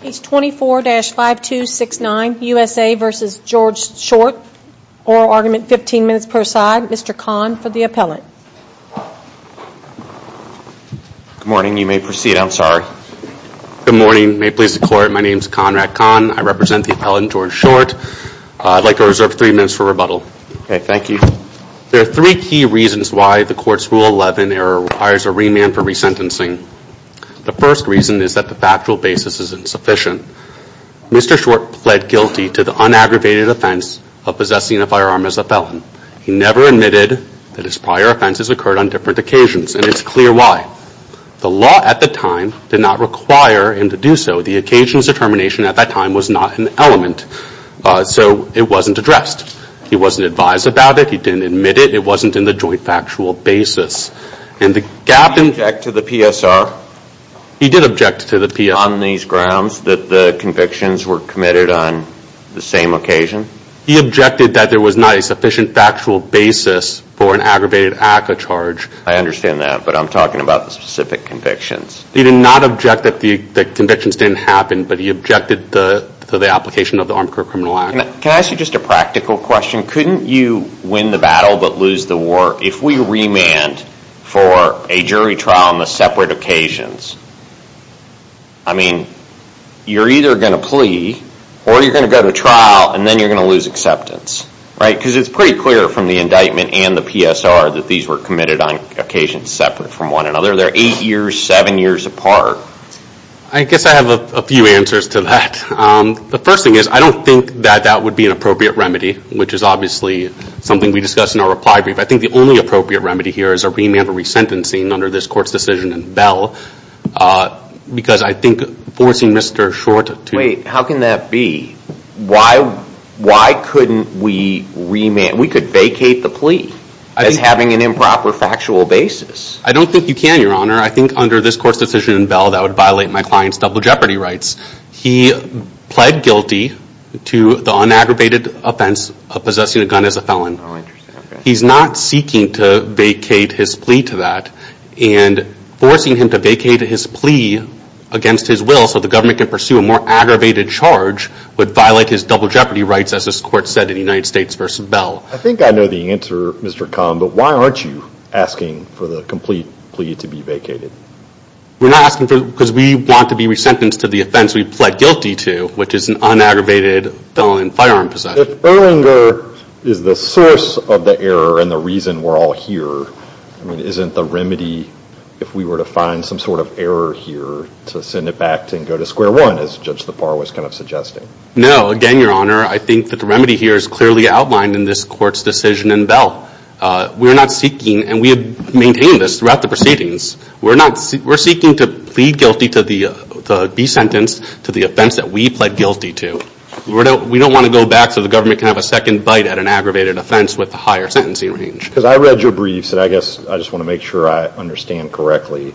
Page 24-5269, USA v. George Short, oral argument 15 minutes per side. Mr. Kahn for the appellant. Good morning. You may proceed. I'm sorry. Good morning. May it please the court, my name is Conrad Kahn. I represent the appellant George Short. I'd like to reserve three minutes for rebuttal. Okay, thank you. There are three key reasons why the court's Rule 11 error requires a remand for resentencing. The first reason is that the factual basis is insufficient. Mr. Short pled guilty to the unaggravated offense of possessing a firearm as a felon. He never admitted that his prior offenses occurred on different occasions, and it's clear why. The law at the time did not require him to do so. The occasional determination at that time was not an element, so it wasn't addressed. He wasn't advised about it. He didn't admit it. It wasn't in the joint basis. He did object to the PSR on these grounds that the convictions were committed on the same occasion. He objected that there was not a sufficient factual basis for an aggravated act of charge. I understand that, but I'm talking about the specific convictions. He did not object that the convictions didn't happen, but he objected to the application of the Armed Criminal Act. Can I ask you just a practical question? Couldn't you win the battle but lose the war if we remand for a jury trial on the separate occasions? I mean, you're either going to plea, or you're going to go to trial, and then you're going to lose acceptance, right? Because it's pretty clear from the indictment and the PSR that these were committed on occasions separate from one another. They're eight years, seven years apart. I guess I have a few answers to that. The first thing is, I don't think that that would be an appropriate remedy, which is obviously something we discussed in our reply brief. I think the only appropriate remedy here is a remand for resentencing under this court's decision in Bell, because I think forcing Mr. Short to- Wait, how can that be? Why couldn't we vacate the plea as having an improper factual basis? I don't think you can, Your Honor. I think under this court's decision in Bell, that would violate my client's double jeopardy rights. He pled guilty to the unaggravated offense of possessing a gun as a felon. He's not seeking to vacate his plea to that, and forcing him to vacate his plea against his will so the government can pursue a more aggravated charge would violate his double jeopardy rights, as this court said in United States v. Bell. I think I know the answer, Mr. Kahn, but why aren't you asking for the complete plea to be vacated? We're not asking for- because we want to be resentenced to the offense we pled guilty to, which is an unaggravated felon in firearm possession. If Erlinger is the source of the error and the reason we're all here, I mean, isn't the remedy, if we were to find some sort of error here, to send it back and go to square one, as Judge Lepar was kind of suggesting? No. Again, Your Honor, I think that the remedy here is clearly outlined in this court's decision in Bell. We're not seeking, and we have we're seeking to plead guilty to be sentenced to the offense that we pled guilty to. We don't want to go back so the government can have a second bite at an aggravated offense with a higher sentencing range. Because I read your briefs, and I guess I just want to make sure I understand correctly.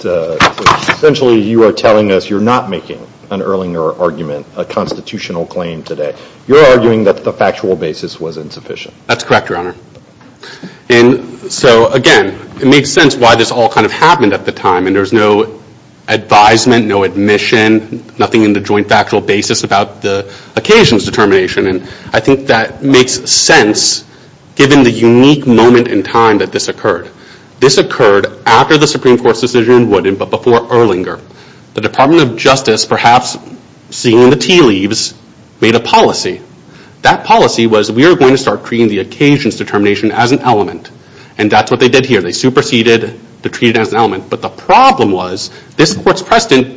Essentially, you are telling us you're not making an Erlinger argument, a constitutional claim today. You're arguing that the factual basis was insufficient. That's correct, Your Honor. Again, it makes sense why this all kind of happened at the time, and there's no advisement, no admission, nothing in the joint factual basis about the occasion's determination. I think that makes sense given the unique moment in time that this occurred. This occurred after the Supreme Court's decision in Wooden, but before Erlinger. The Department of Justice, perhaps seeing the tea leaves, made a policy. That policy was we were going to start treating the occasion's determination as an element, and that's what they did here. They superseded to treat it as an element, but the problem was this court's precedent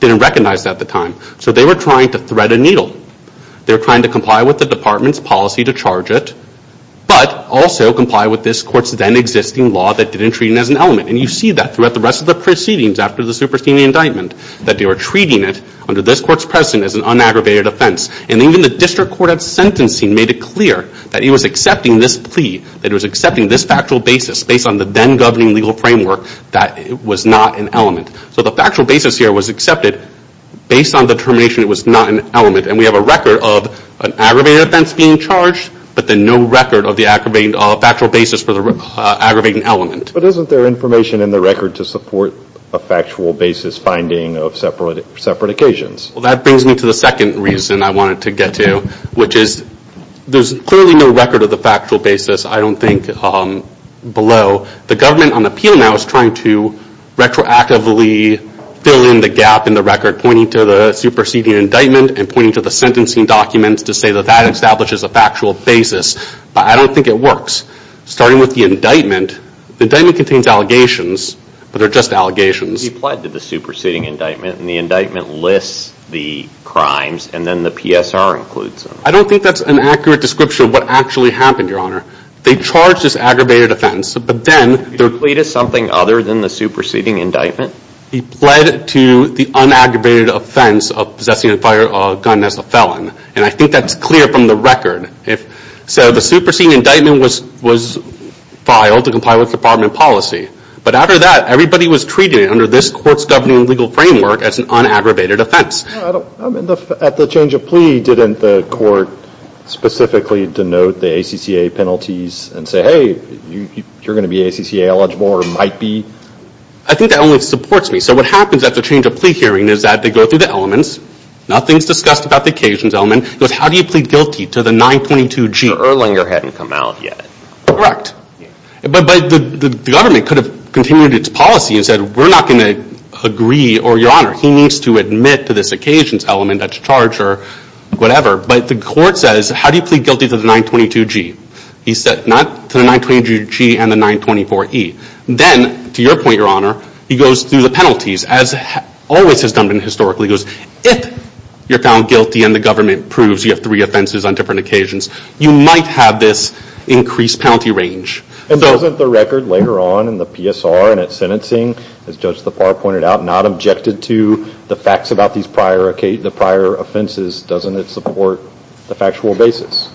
didn't recognize that at the time. So they were trying to thread a needle. They were trying to comply with the department's policy to charge it, but also comply with this court's then existing law that didn't treat it as an element. And you see that throughout the rest of the proceedings after the superseding indictment, that they were treating it under this court's precedent as an that he was accepting this plea, that he was accepting this factual basis based on the then governing legal framework that it was not an element. So the factual basis here was accepted based on the determination it was not an element, and we have a record of an aggravated offense being charged, but then no record of the aggravating factual basis for the aggravating element. But isn't there information in the record to support a factual basis finding of separate occasions? Well, that brings me to the second reason I wanted to get to, which is there's clearly no record of the factual basis, I don't think, below. The government on appeal now is trying to retroactively fill in the gap in the record, pointing to the superseding indictment and pointing to the sentencing documents to say that that establishes a factual basis, but I don't think it works. Starting with the indictment, the indictment contains allegations, but they're just allegations. You applied to the superseding indictment and the indictment lists the crimes and then the PSR includes them. I don't think that's an accurate description of what actually happened, Your Honor. They charged this aggravated offense, but then they're pleading something other than the superseding indictment. He pled to the unaggravated offense of possessing a firearm as a felon, and I think that's clear from the record. So the superseding indictment was filed to comply with department policy, but after that, everybody was treating this court's governing legal framework as an unaggravated offense. At the change of plea, didn't the court specifically denote the ACCA penalties and say, hey, you're going to be ACCA eligible or might be? I think that only supports me. So what happens at the change of plea hearing is that they go through the elements. Nothing's discussed about the occasions element. It goes, how do you plead guilty to the 922G? The Erlinger hadn't come out yet. Correct. But the government could have continued its policy and said, we're not going to agree or, Your Honor, he needs to admit to this occasions element that's charged or whatever. But the court says, how do you plead guilty to the 922G? He said, not to the 922G and the 924E. Then, to your point, Your Honor, he goes through the penalties as always has done historically. He goes, if you're found guilty and the government proves you have three offenses on different occasions, you might have this increased penalty range. And doesn't the record later on in the PSR and its sentencing, as Judge LaFleur pointed out, not objected to the facts about these prior offenses? Doesn't it support the factual basis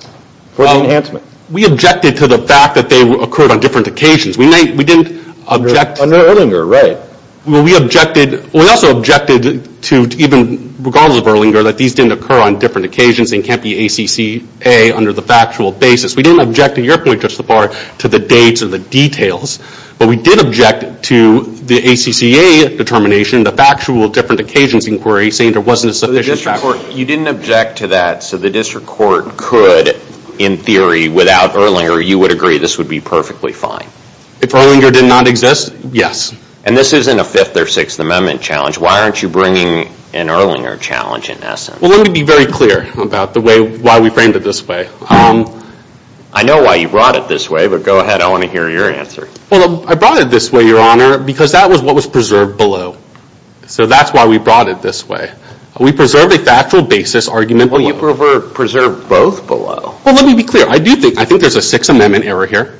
for the enhancement? Well, we objected to the fact that they occurred on different occasions. We didn't object. Under Erlinger, right. We also objected to even, regardless of Erlinger, that these didn't occur on different occasions and can't be ACCA under the factual basis. We didn't object, to your point, Judge LaFleur, to the dates or the details. But we did object to the ACCA determination, the factual different occasions inquiry, saying there wasn't a sufficient fact. You didn't object to that, so the district court could, in theory, without Erlinger, you would agree this would be perfectly fine? If Erlinger did not exist, yes. And this isn't a Fifth or Sixth Amendment challenge. Why aren't you bringing an Erlinger challenge, in essence? Well, let me be very clear about the way, why we framed it this way. I know why you brought it this way, but go ahead. I want to hear your answer. Well, I brought it this way, Your Honor, because that was what was preserved below. So that's why we brought it this way. We preserved a factual basis argument. Well, you preserved both below. Well, let me be clear. I do think, I think there's a Sixth Amendment error here.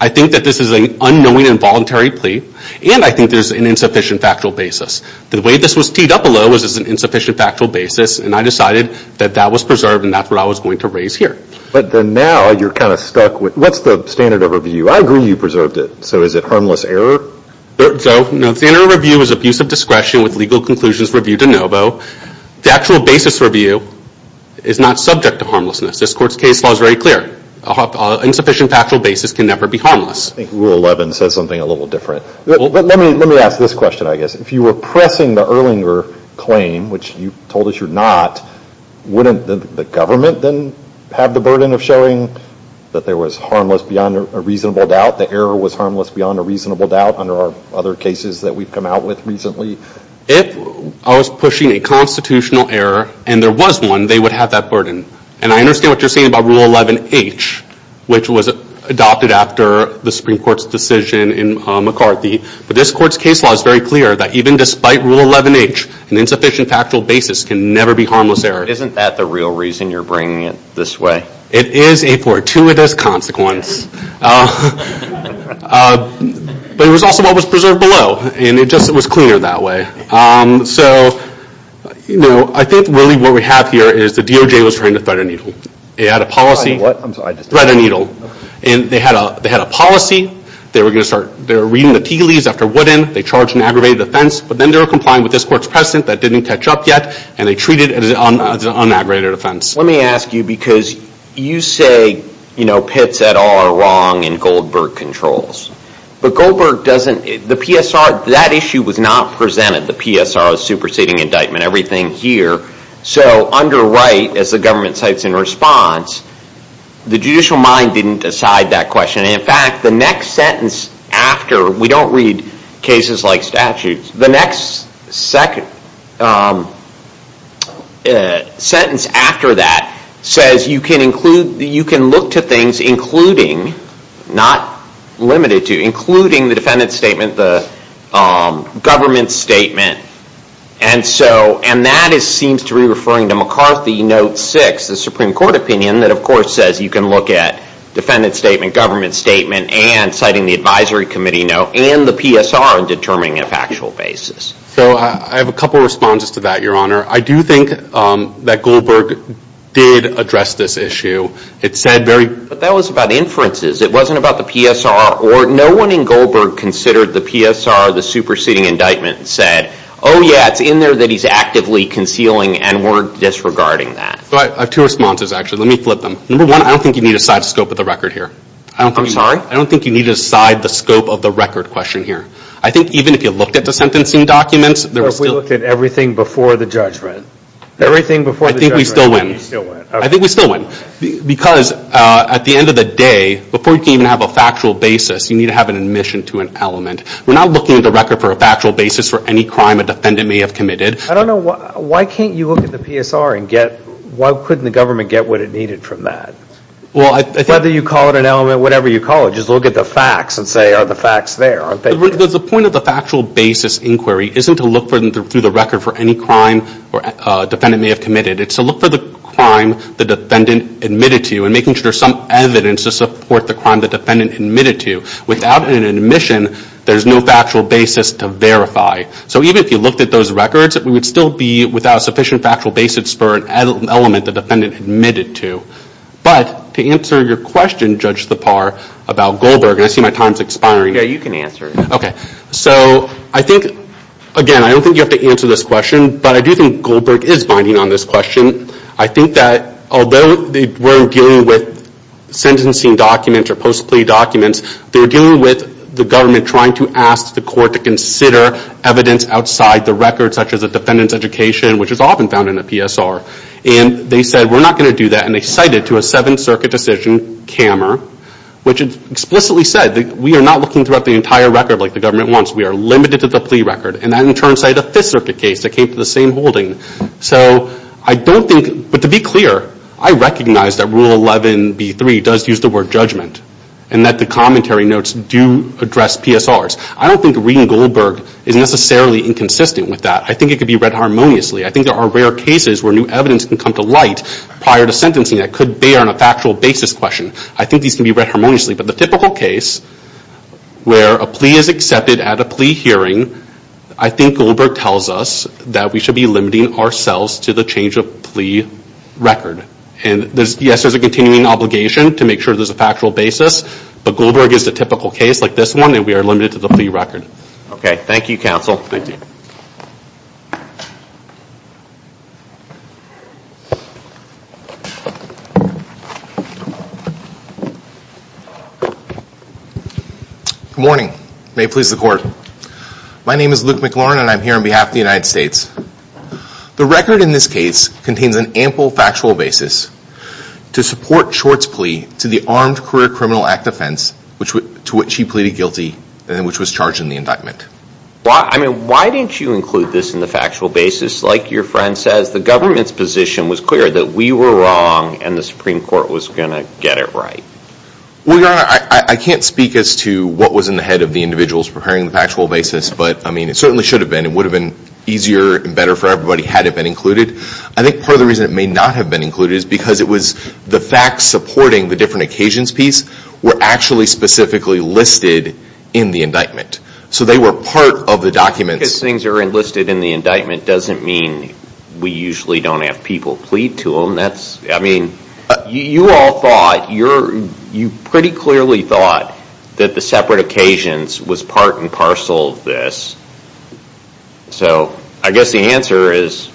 I think that this is an unknowing involuntary plea. And I think there's an insufficient factual basis. The way this was teed up below was as an insufficient factual basis, and I decided that that was preserved, and that's what I was going to raise here. But then now you're kind of stuck with, what's the standard of review? I agree you preserved it. So is it harmless error? So, no, standard review is abuse of discretion with legal conclusions reviewed de novo. The actual basis review is not subject to harmlessness. This Court's case law is very clear. An insufficient factual basis can never be harmless. I think Rule 11 says something a little different. Let me ask this question, I guess. If you were pressing the Erlinger claim, which you told us you're not, wouldn't the government then have the burden of showing that there was harmless beyond a reasonable doubt, the error was harmless beyond a reasonable doubt under our other cases that we've come out with recently? If I was pushing a constitutional error, and there was one, they would have that burden. And I understand what you're saying about Rule 11H, which was adopted after the Supreme Court's decision in McCarthy. But this Court's case law is very clear that even despite Rule 11H, an insufficient factual basis can never be harmless error. Isn't that the real reason you're bringing it this way? It is a fortuitous consequence. But it was also what was preserved below, and it just was cleaner that way. So, you know, I think really what we have here is the DOJ was trying to thread a needle. They had a policy. Thread a needle. And they had a policy. They were going to start, they were reading the TLEs after Woodin. They charged an aggravated offense. But then they were complying with this Court's precedent that didn't catch up yet, and they treated it as an unaggravated offense. Let me ask you, because you say, you know, Pitts et al are wrong in Goldberg controls. But Goldberg doesn't, the PSR, that issue was not presented, the PSR, the superseding the judicial mind didn't decide that question. In fact, the next sentence after, we don't read cases like statutes, the next second sentence after that says you can include, you can look to things including, not limited to, including the defendant's statement, the government's statement. And so, and that seems to be referring to McCarthy note six, the Supreme Court opinion that of course says you can look at defendant's statement, government's statement, and citing the advisory committee note, and the PSR in determining a factual basis. So I have a couple responses to that, Your Honor. I do think that Goldberg did address this issue. It said very, but that was about inferences. It wasn't about the PSR, or no one in Goldberg considered the PSR, the superseding indictment. It said, oh yeah, it's in there that he's actively concealing, and we're disregarding that. I have two responses, actually. Let me flip them. Number one, I don't think you need to side the scope of the record here. I'm sorry? I don't think you need to side the scope of the record question here. I think even if you looked at the sentencing documents. We looked at everything before the judgment. Everything before the judgment. I think we still win. I think we still win. Because at the end of the day, before you can even have a factual basis, you need to an admission to an element. We're not looking at the record for a factual basis for any crime a defendant may have committed. I don't know, why can't you look at the PSR and get, why couldn't the government get what it needed from that? Whether you call it an element, whatever you call it, just look at the facts and say, are the facts there? The point of the factual basis inquiry isn't to look through the record for any crime a defendant may have committed. It's to look for the crime the defendant admitted to, and making sure there's some evidence to support the crime the defendant admitted to. Without an admission, there's no factual basis to verify. So even if you looked at those records, we would still be without sufficient factual basis for an element the defendant admitted to. But to answer your question, Judge Thapar, about Goldberg, and I see my time's expiring. Yeah, you can answer it. Okay. So I think, again, I don't think you have to answer this question, but I do think Goldberg is binding on this question. I think that although we're dealing with sentencing documents or post-plea documents, they're dealing with the government trying to ask the court to consider evidence outside the record, such as a defendant's education, which is often found in a PSR. And they said, we're not going to do that. And they cited to a Seventh Circuit decision, Kammer, which explicitly said that we are not looking throughout the entire record like the government wants. We are limited to the plea record. And that in turn cited a Fifth Circuit case that same holding. So I don't think, but to be clear, I recognize that Rule 11B3 does use the word judgment and that the commentary notes do address PSRs. I don't think reading Goldberg is necessarily inconsistent with that. I think it could be read harmoniously. I think there are rare cases where new evidence can come to light prior to sentencing that could bear on a factual basis question. I think these can be read harmoniously. But the typical case where a plea is accepted at a plea hearing, I think Goldberg tells us that we should be limiting ourselves to the change of plea record. And yes, there's a continuing obligation to make sure there's a factual basis. But Goldberg is the typical case like this one, and we are limited to the plea record. Okay. Thank you, counsel. Thank you. Good morning. May it please the court. My name is Luke McLaurin, and I'm here on behalf of the United States. The record in this case contains an ample factual basis to support Short's plea to the Armed Career Criminal Act offense to which he pleaded guilty and which was charged in the basis. Like your friend says, the government's position was clear that we were wrong and the Supreme Court was going to get it right. Well, Your Honor, I can't speak as to what was in the head of the individuals preparing the factual basis. But I mean, it certainly should have been. It would have been easier and better for everybody had it been included. I think part of the reason it may not have been included is because it was the facts supporting the different occasions piece were actually specifically listed in the indictment. So they were part of the documents. Just because things are listed in the indictment doesn't mean we usually don't have people plead to them. I mean, you all thought, you pretty clearly thought that the separate occasions was part and parcel of this. So I guess the answer is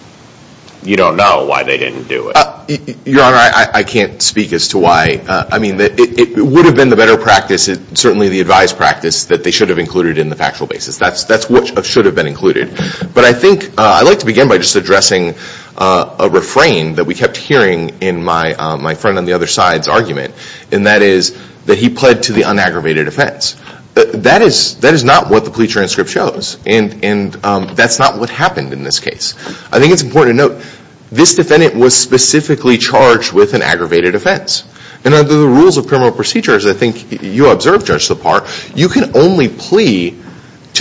you don't know why they didn't do it. Your Honor, I can't speak as to why. I mean, it would have been the better practice, certainly the advised practice, that they should have included in the factual basis. That's what should have been included. But I think I'd like to begin by just addressing a refrain that we kept hearing in my friend on the other side's argument. And that is that he pled to the unaggravated offense. That is not what the plea transcript shows. And that's not what happened in this case. I think it's important to note this defendant was specifically charged with an aggravated offense. And under the rules of criminal procedures, I think you observed, Judge LaPar, you can only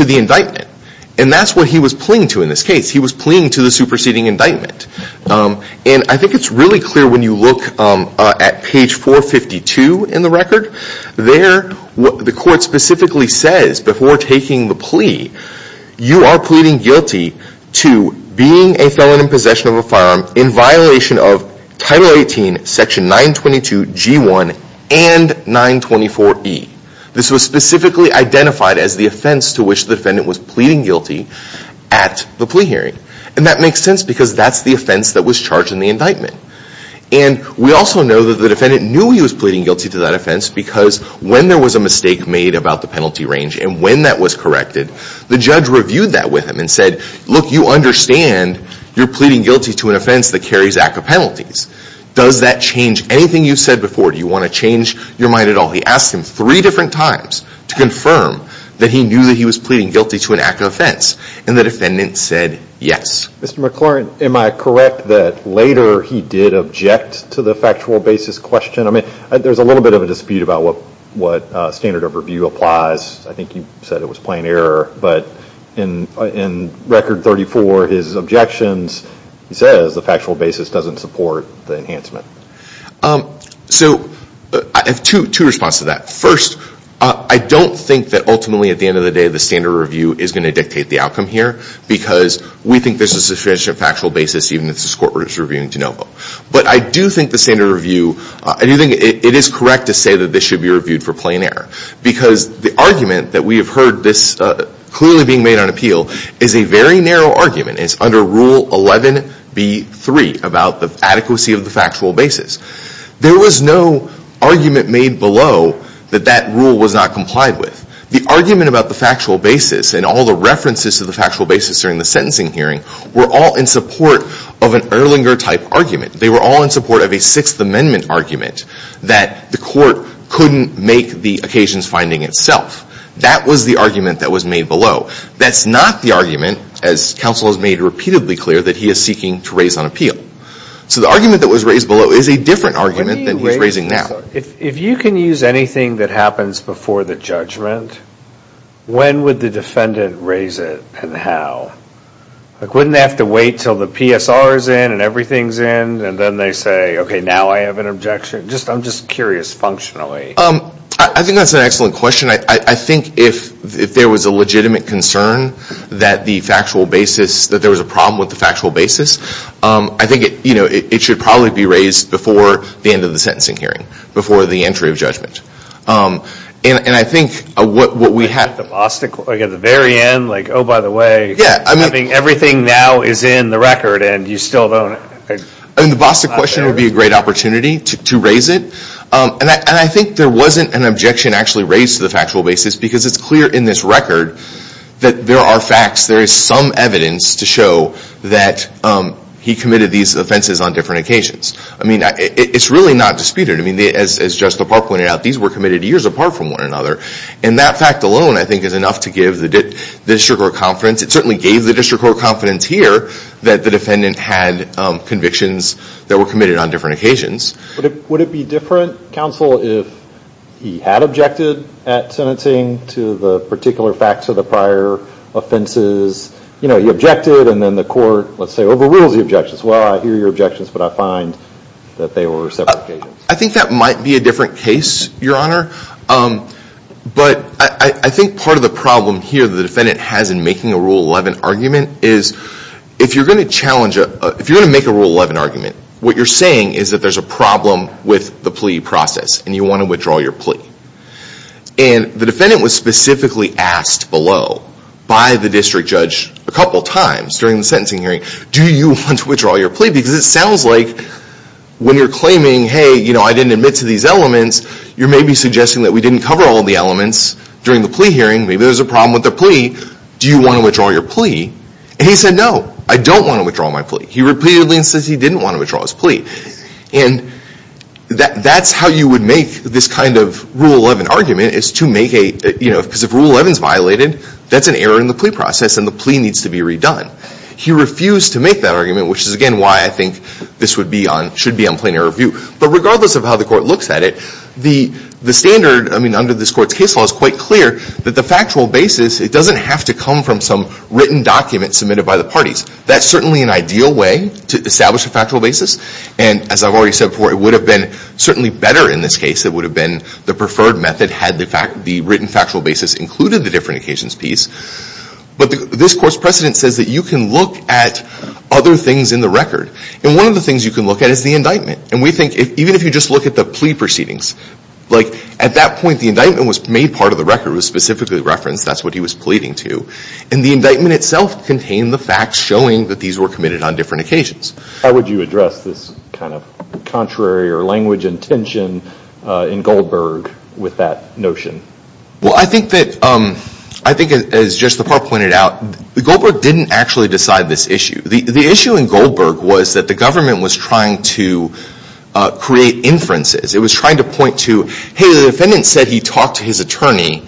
the indictment. And that's what he was pleading to in this case. He was pleading to the superseding indictment. And I think it's really clear when you look at page 452 in the record, there what the court specifically says before taking the plea, you are pleading guilty to being a felon in possession of a firearm in violation of Title 18, Section 922, G1, and 924E. This was specifically identified as the offense to which the defendant was pleading guilty at the plea hearing. And that makes sense because that's the offense that was charged in the indictment. And we also know that the defendant knew he was pleading guilty to that offense because when there was a mistake made about the penalty range and when that was corrected, the judge reviewed that with him and said, look, you understand you're pleading guilty to an offense that carries ACCA penalties. Does that change anything you've said before? Do you want to change your mind at all? He asked him three different times to confirm that he knew that he was pleading guilty to an act of offense. And the defendant said yes. Mr. McLaurin, am I correct that later he did object to the factual basis question? I mean, there's a little bit of a dispute about what standard of review applies. I think you said it was plain error, but in Record 34, his objections, he says the factual basis doesn't support the enhancement. So I have two responses to that. First, I don't think that ultimately at the end of the day, the standard of review is going to dictate the outcome here because we think there's a sufficient factual basis even if the court is reviewing de novo. But I do think the standard of review, I do think it is correct to say that this should be reviewed for plain error because the argument that we have heard this clearly being made on appeal is a very narrow argument. It's under Rule 11B3 about the adequacy of the factual basis. There was no argument made below that that rule was not complied with. The argument about the factual basis and all the references to the factual basis during the sentencing hearing were all in support of an Erlinger-type argument. They were all in support of a Sixth Amendment argument that the court couldn't make the occasions finding itself. That was the argument that was made below. That's not the argument, as counsel has made repeatedly clear, that he is seeking to raise on appeal. So the argument that was raised below is a different argument than he's raising now. If you can use anything that happens before the judgment, when would the defendant raise it and how? Like wouldn't they have to wait until the PSR is in and everything's in and then they say, okay, now I have an objection? I'm just curious functionally. I think that's an excellent question. I think if there was a legitimate concern that the factual basis, that there was a problem with the factual basis, I think it should probably be raised before the end of the sentencing hearing, before the entry of judgment. And I think what we have... At the very end, like, oh, by the way, everything now is in the record and you still don't... And the Boston question would be a great opportunity to raise it. And I think there wasn't an objection actually raised to the factual basis because it's clear in this record that there are facts, there is some evidence to show that he committed these offenses on different occasions. I mean, it's really not disputed. I mean, as Judge DePauw pointed out, these were committed years apart from one another. And that fact alone, I think, is enough to give the district court confidence. It certainly gave the district court confidence here that the defendant had convictions that were committed on different occasions. Would it be different, counsel, if he had objected at sentencing to the particular facts of the prior offenses? You know, he objected and then the court, let's say, overrules the objections. Well, I hear your objections, but I find that they were separate cases. I think that might be a different case, Your Honor. But I think part of the problem here the defendant has in making a Rule 11 argument is if you're going to challenge, if you're going to make a Rule 11 argument, what you're saying is that there's a problem with the plea process and you want to withdraw your plea. And the defendant was specifically asked below by the district judge a couple of times during the sentencing hearing, do you want to withdraw your plea? Because it sounds like when you're claiming, hey, you know, I didn't admit to these elements, you're maybe suggesting that we didn't cover all the elements during the plea hearing. Maybe there's a problem with the plea. Do you want to withdraw your plea? And he said, no, I don't want to withdraw my plea. He repeatedly insists he didn't want to withdraw his plea. And that's how you would make this kind of Rule 11 argument is to make a, you know, because if Rule 11 is violated, that's an error in the plea process and the plea needs to be redone. He refused to make that argument, which is, again, why I think this would be on, should be on plain error of view. But regardless of how the court looks at it, the standard, I mean, under this court's case law is quite clear that the factual basis, it doesn't have to come from some written document submitted by the parties. That's certainly an ideal way to establish a factual basis. And as I've already said before, it would have been certainly better in this case. It would have been the preferred method had the written factual basis included the different occasions piece. But this court's precedent says that you can look at other things in the record. And one of the things you can look at is the indictment. And we think, even if you just look at the plea proceedings, like at that point, the indictment was made part of the record. It was specifically referenced. That's what he was pleading to. And the indictment itself contained the facts showing that these were committed on different occasions. How would you address this kind of contrary or language and tension in Goldberg with that notion? Well, I think that, I think as Judge Lepore pointed out, Goldberg didn't actually decide this issue. The issue in Goldberg was that the government was trying to create inferences. It was trying to point to, hey, the defendant said he talked to his attorney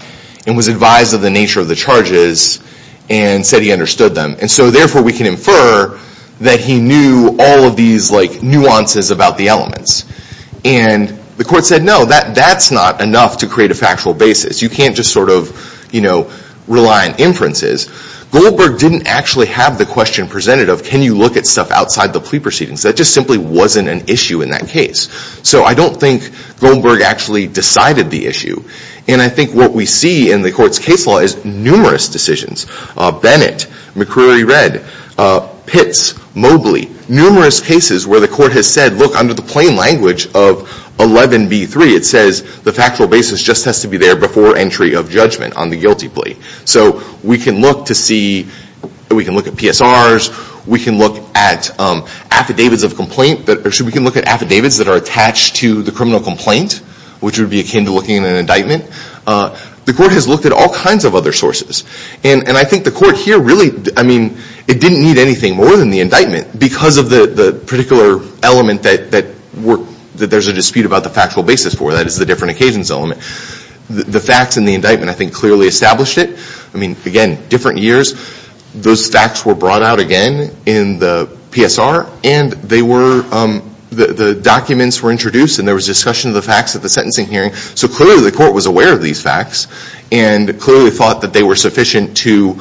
and was advised of the nature of the charges and said he understood them. And so therefore we can infer that he knew all of these nuances about the elements. And the court said, no, that's not enough to create a factual basis. You can't just sort of rely on inferences. Goldberg didn't actually have the question presented of, can you look at stuff outside the plea proceedings? That just simply wasn't an issue in that case. So I don't think Goldberg actually decided the issue. And I think what we see in the court's case law is numerous decisions. Bennett, McCreery-Redd, Pitts, Mobley, numerous cases where the court has said, look, under the plain language of 11B3, it says the factual basis just has to be there before entry of judgment on the guilty plea. So we can look to see, we can look at PSRs. We can look at affidavits of complaint. Actually, we can look at affidavits that are attached to the criminal complaint, which would be akin to looking at an indictment. The court has looked at all kinds of other sources. And I think the court here really, I mean, it didn't need anything more than the indictment because of the particular element that there's a dispute about the factual basis for. That is the different occasions element. The facts in the indictment, I think, clearly established it. I mean, again, different years. Those facts were brought out again in the PSR and they were, the documents were introduced and there was discussion of the facts at the sentencing hearing. So clearly the court was aware of these facts and clearly thought that they were sufficient to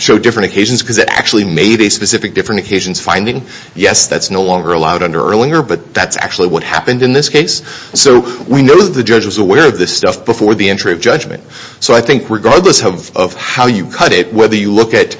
show different occasions because it actually made a specific different occasions finding. Yes, that's no longer allowed under Erlinger, but that's actually what happened in this case. So we know that the judge was aware of this stuff before the entry of judgment. So I think regardless of how you cut it, whether you look at,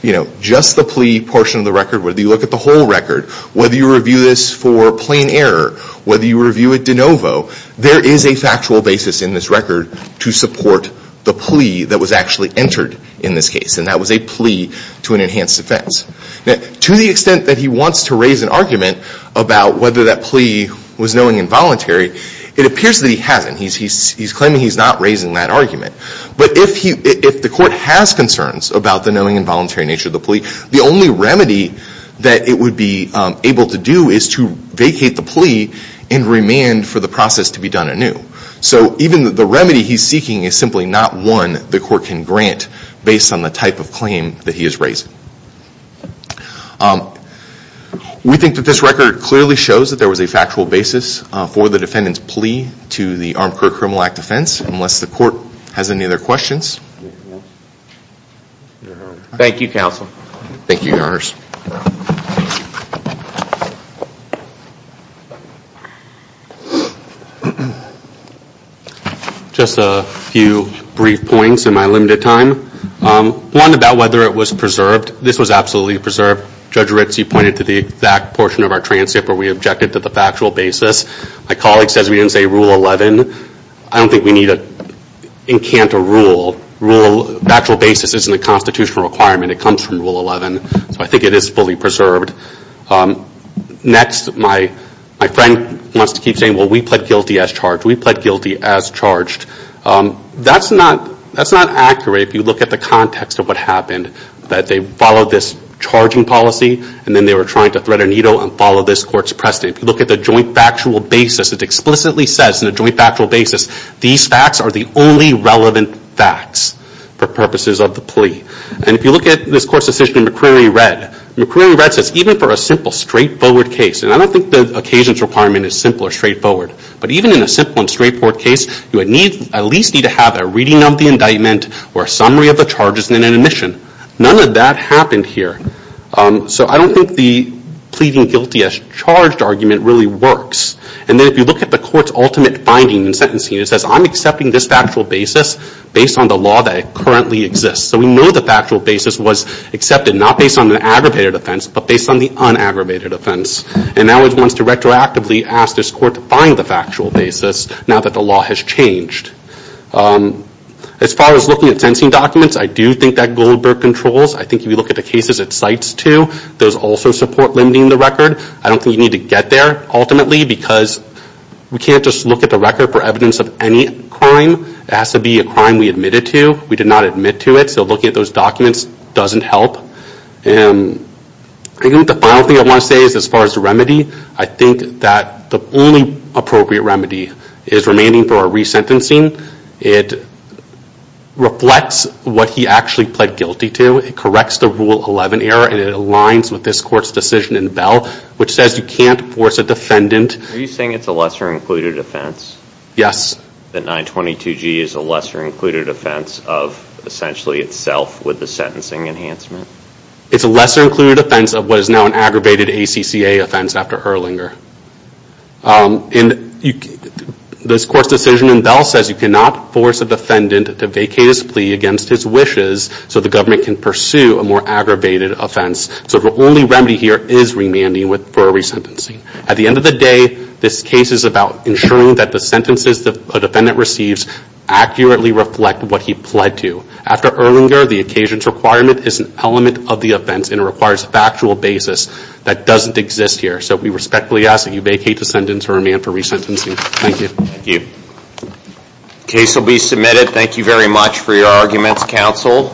you know, just the plea portion of the record, whether you look at the whole record, whether you review this for plain error, whether you review it de novo, there is a factual basis in this record to support the plea that was actually entered in this case. And that was a plea to an enhanced offense. To the extent that he wants to raise an argument about whether that plea was knowing involuntary, it appears that he hasn't. He's claiming he's not raising that argument. But if the court has concerns about the knowing involuntary nature of the plea, the only remedy that it would be able to do is to vacate the plea and remand for the process to be done anew. So even the remedy he's seeking is simply not one the court can grant based on the type of claim that he is raising. We think that this record clearly shows that there was a factual basis for the defendant's plea to the Armcourt Criminal Act offense. Unless the court has any other questions. Thank you counsel. Thank you, your honors. Just a few brief points in my limited time. One about whether it was preserved. This was absolutely preserved. Judge Rizzi pointed to the exact portion of our transcript where we objected to the factual basis. My colleague says we didn't say Rule 11. I don't think we need to encant a rule. Factual basis isn't a constitutional requirement. It comes from Rule 11. So I think it is fully preserved. Next, my friend wants to keep saying, well we pled guilty as charged. We pled guilty as charged. That's not accurate if you look at the context of what happened. That they followed this charging policy and then they were trying to thread a needle and follow this court's precedent. If you look at the joint factual basis, it explicitly says in the joint factual basis, these facts are the only relevant facts for purposes of the plea. And if you look at this court's decision in McCreary Red, McCreary Red says even for a simple straightforward case, and I don't think the occasions requirement is simple or straightforward, but even in a simple and straightforward case, you at least need to have a reading of the indictment or a summary of the charges and an admission. None of that happened here. So I don't think the pleading guilty as charged argument really works. And then if you look at the court's ultimate finding in sentencing, it says I'm accepting this factual basis based on the law that currently exists. So we know the factual basis was accepted, not based on the aggravated offense, but based on the unaggravated offense. And now it wants to retroactively ask this court to find the factual basis now that the law has changed. As far as looking at sentencing documents, I do think that Goldberg controls. I think if you look at the cases it cites too, those also support limiting the record. I don't think you need to get there ultimately because we can't just look at the record for evidence of any crime. It has to be a crime we admitted to. We did not admit to it, so looking at those documents doesn't help. I think the final thing I want to say is as far as the remedy, I think that the only appropriate remedy is remaining for a resentencing. It reflects what he actually pled guilty to. It corrects the Rule 11 error, and it aligns with this court's decision in Bell, which says you can't force a defendant. Are you saying it's a lesser included offense? Yes. That 922G is a lesser included offense of essentially itself with the sentencing enhancement? It's a lesser included offense of what is now an aggravated ACCA offense after Herlinger. This court's decision in Bell says you cannot force a defendant to vacate his plea against his wishes so the government can pursue a more aggravated offense, so the only remedy here is remanding for a resentencing. At the end of the day, this case is about ensuring that the sentences a defendant receives accurately reflect what he pled to. After Herlinger, the occasions requirement is an element of the offense, and it requires a factual basis that doesn't exist here. So we respectfully ask that you vacate the sentence or remand for resentencing. Thank you. Thank you. The case will be submitted. Thank you very much for your arguments, counsel.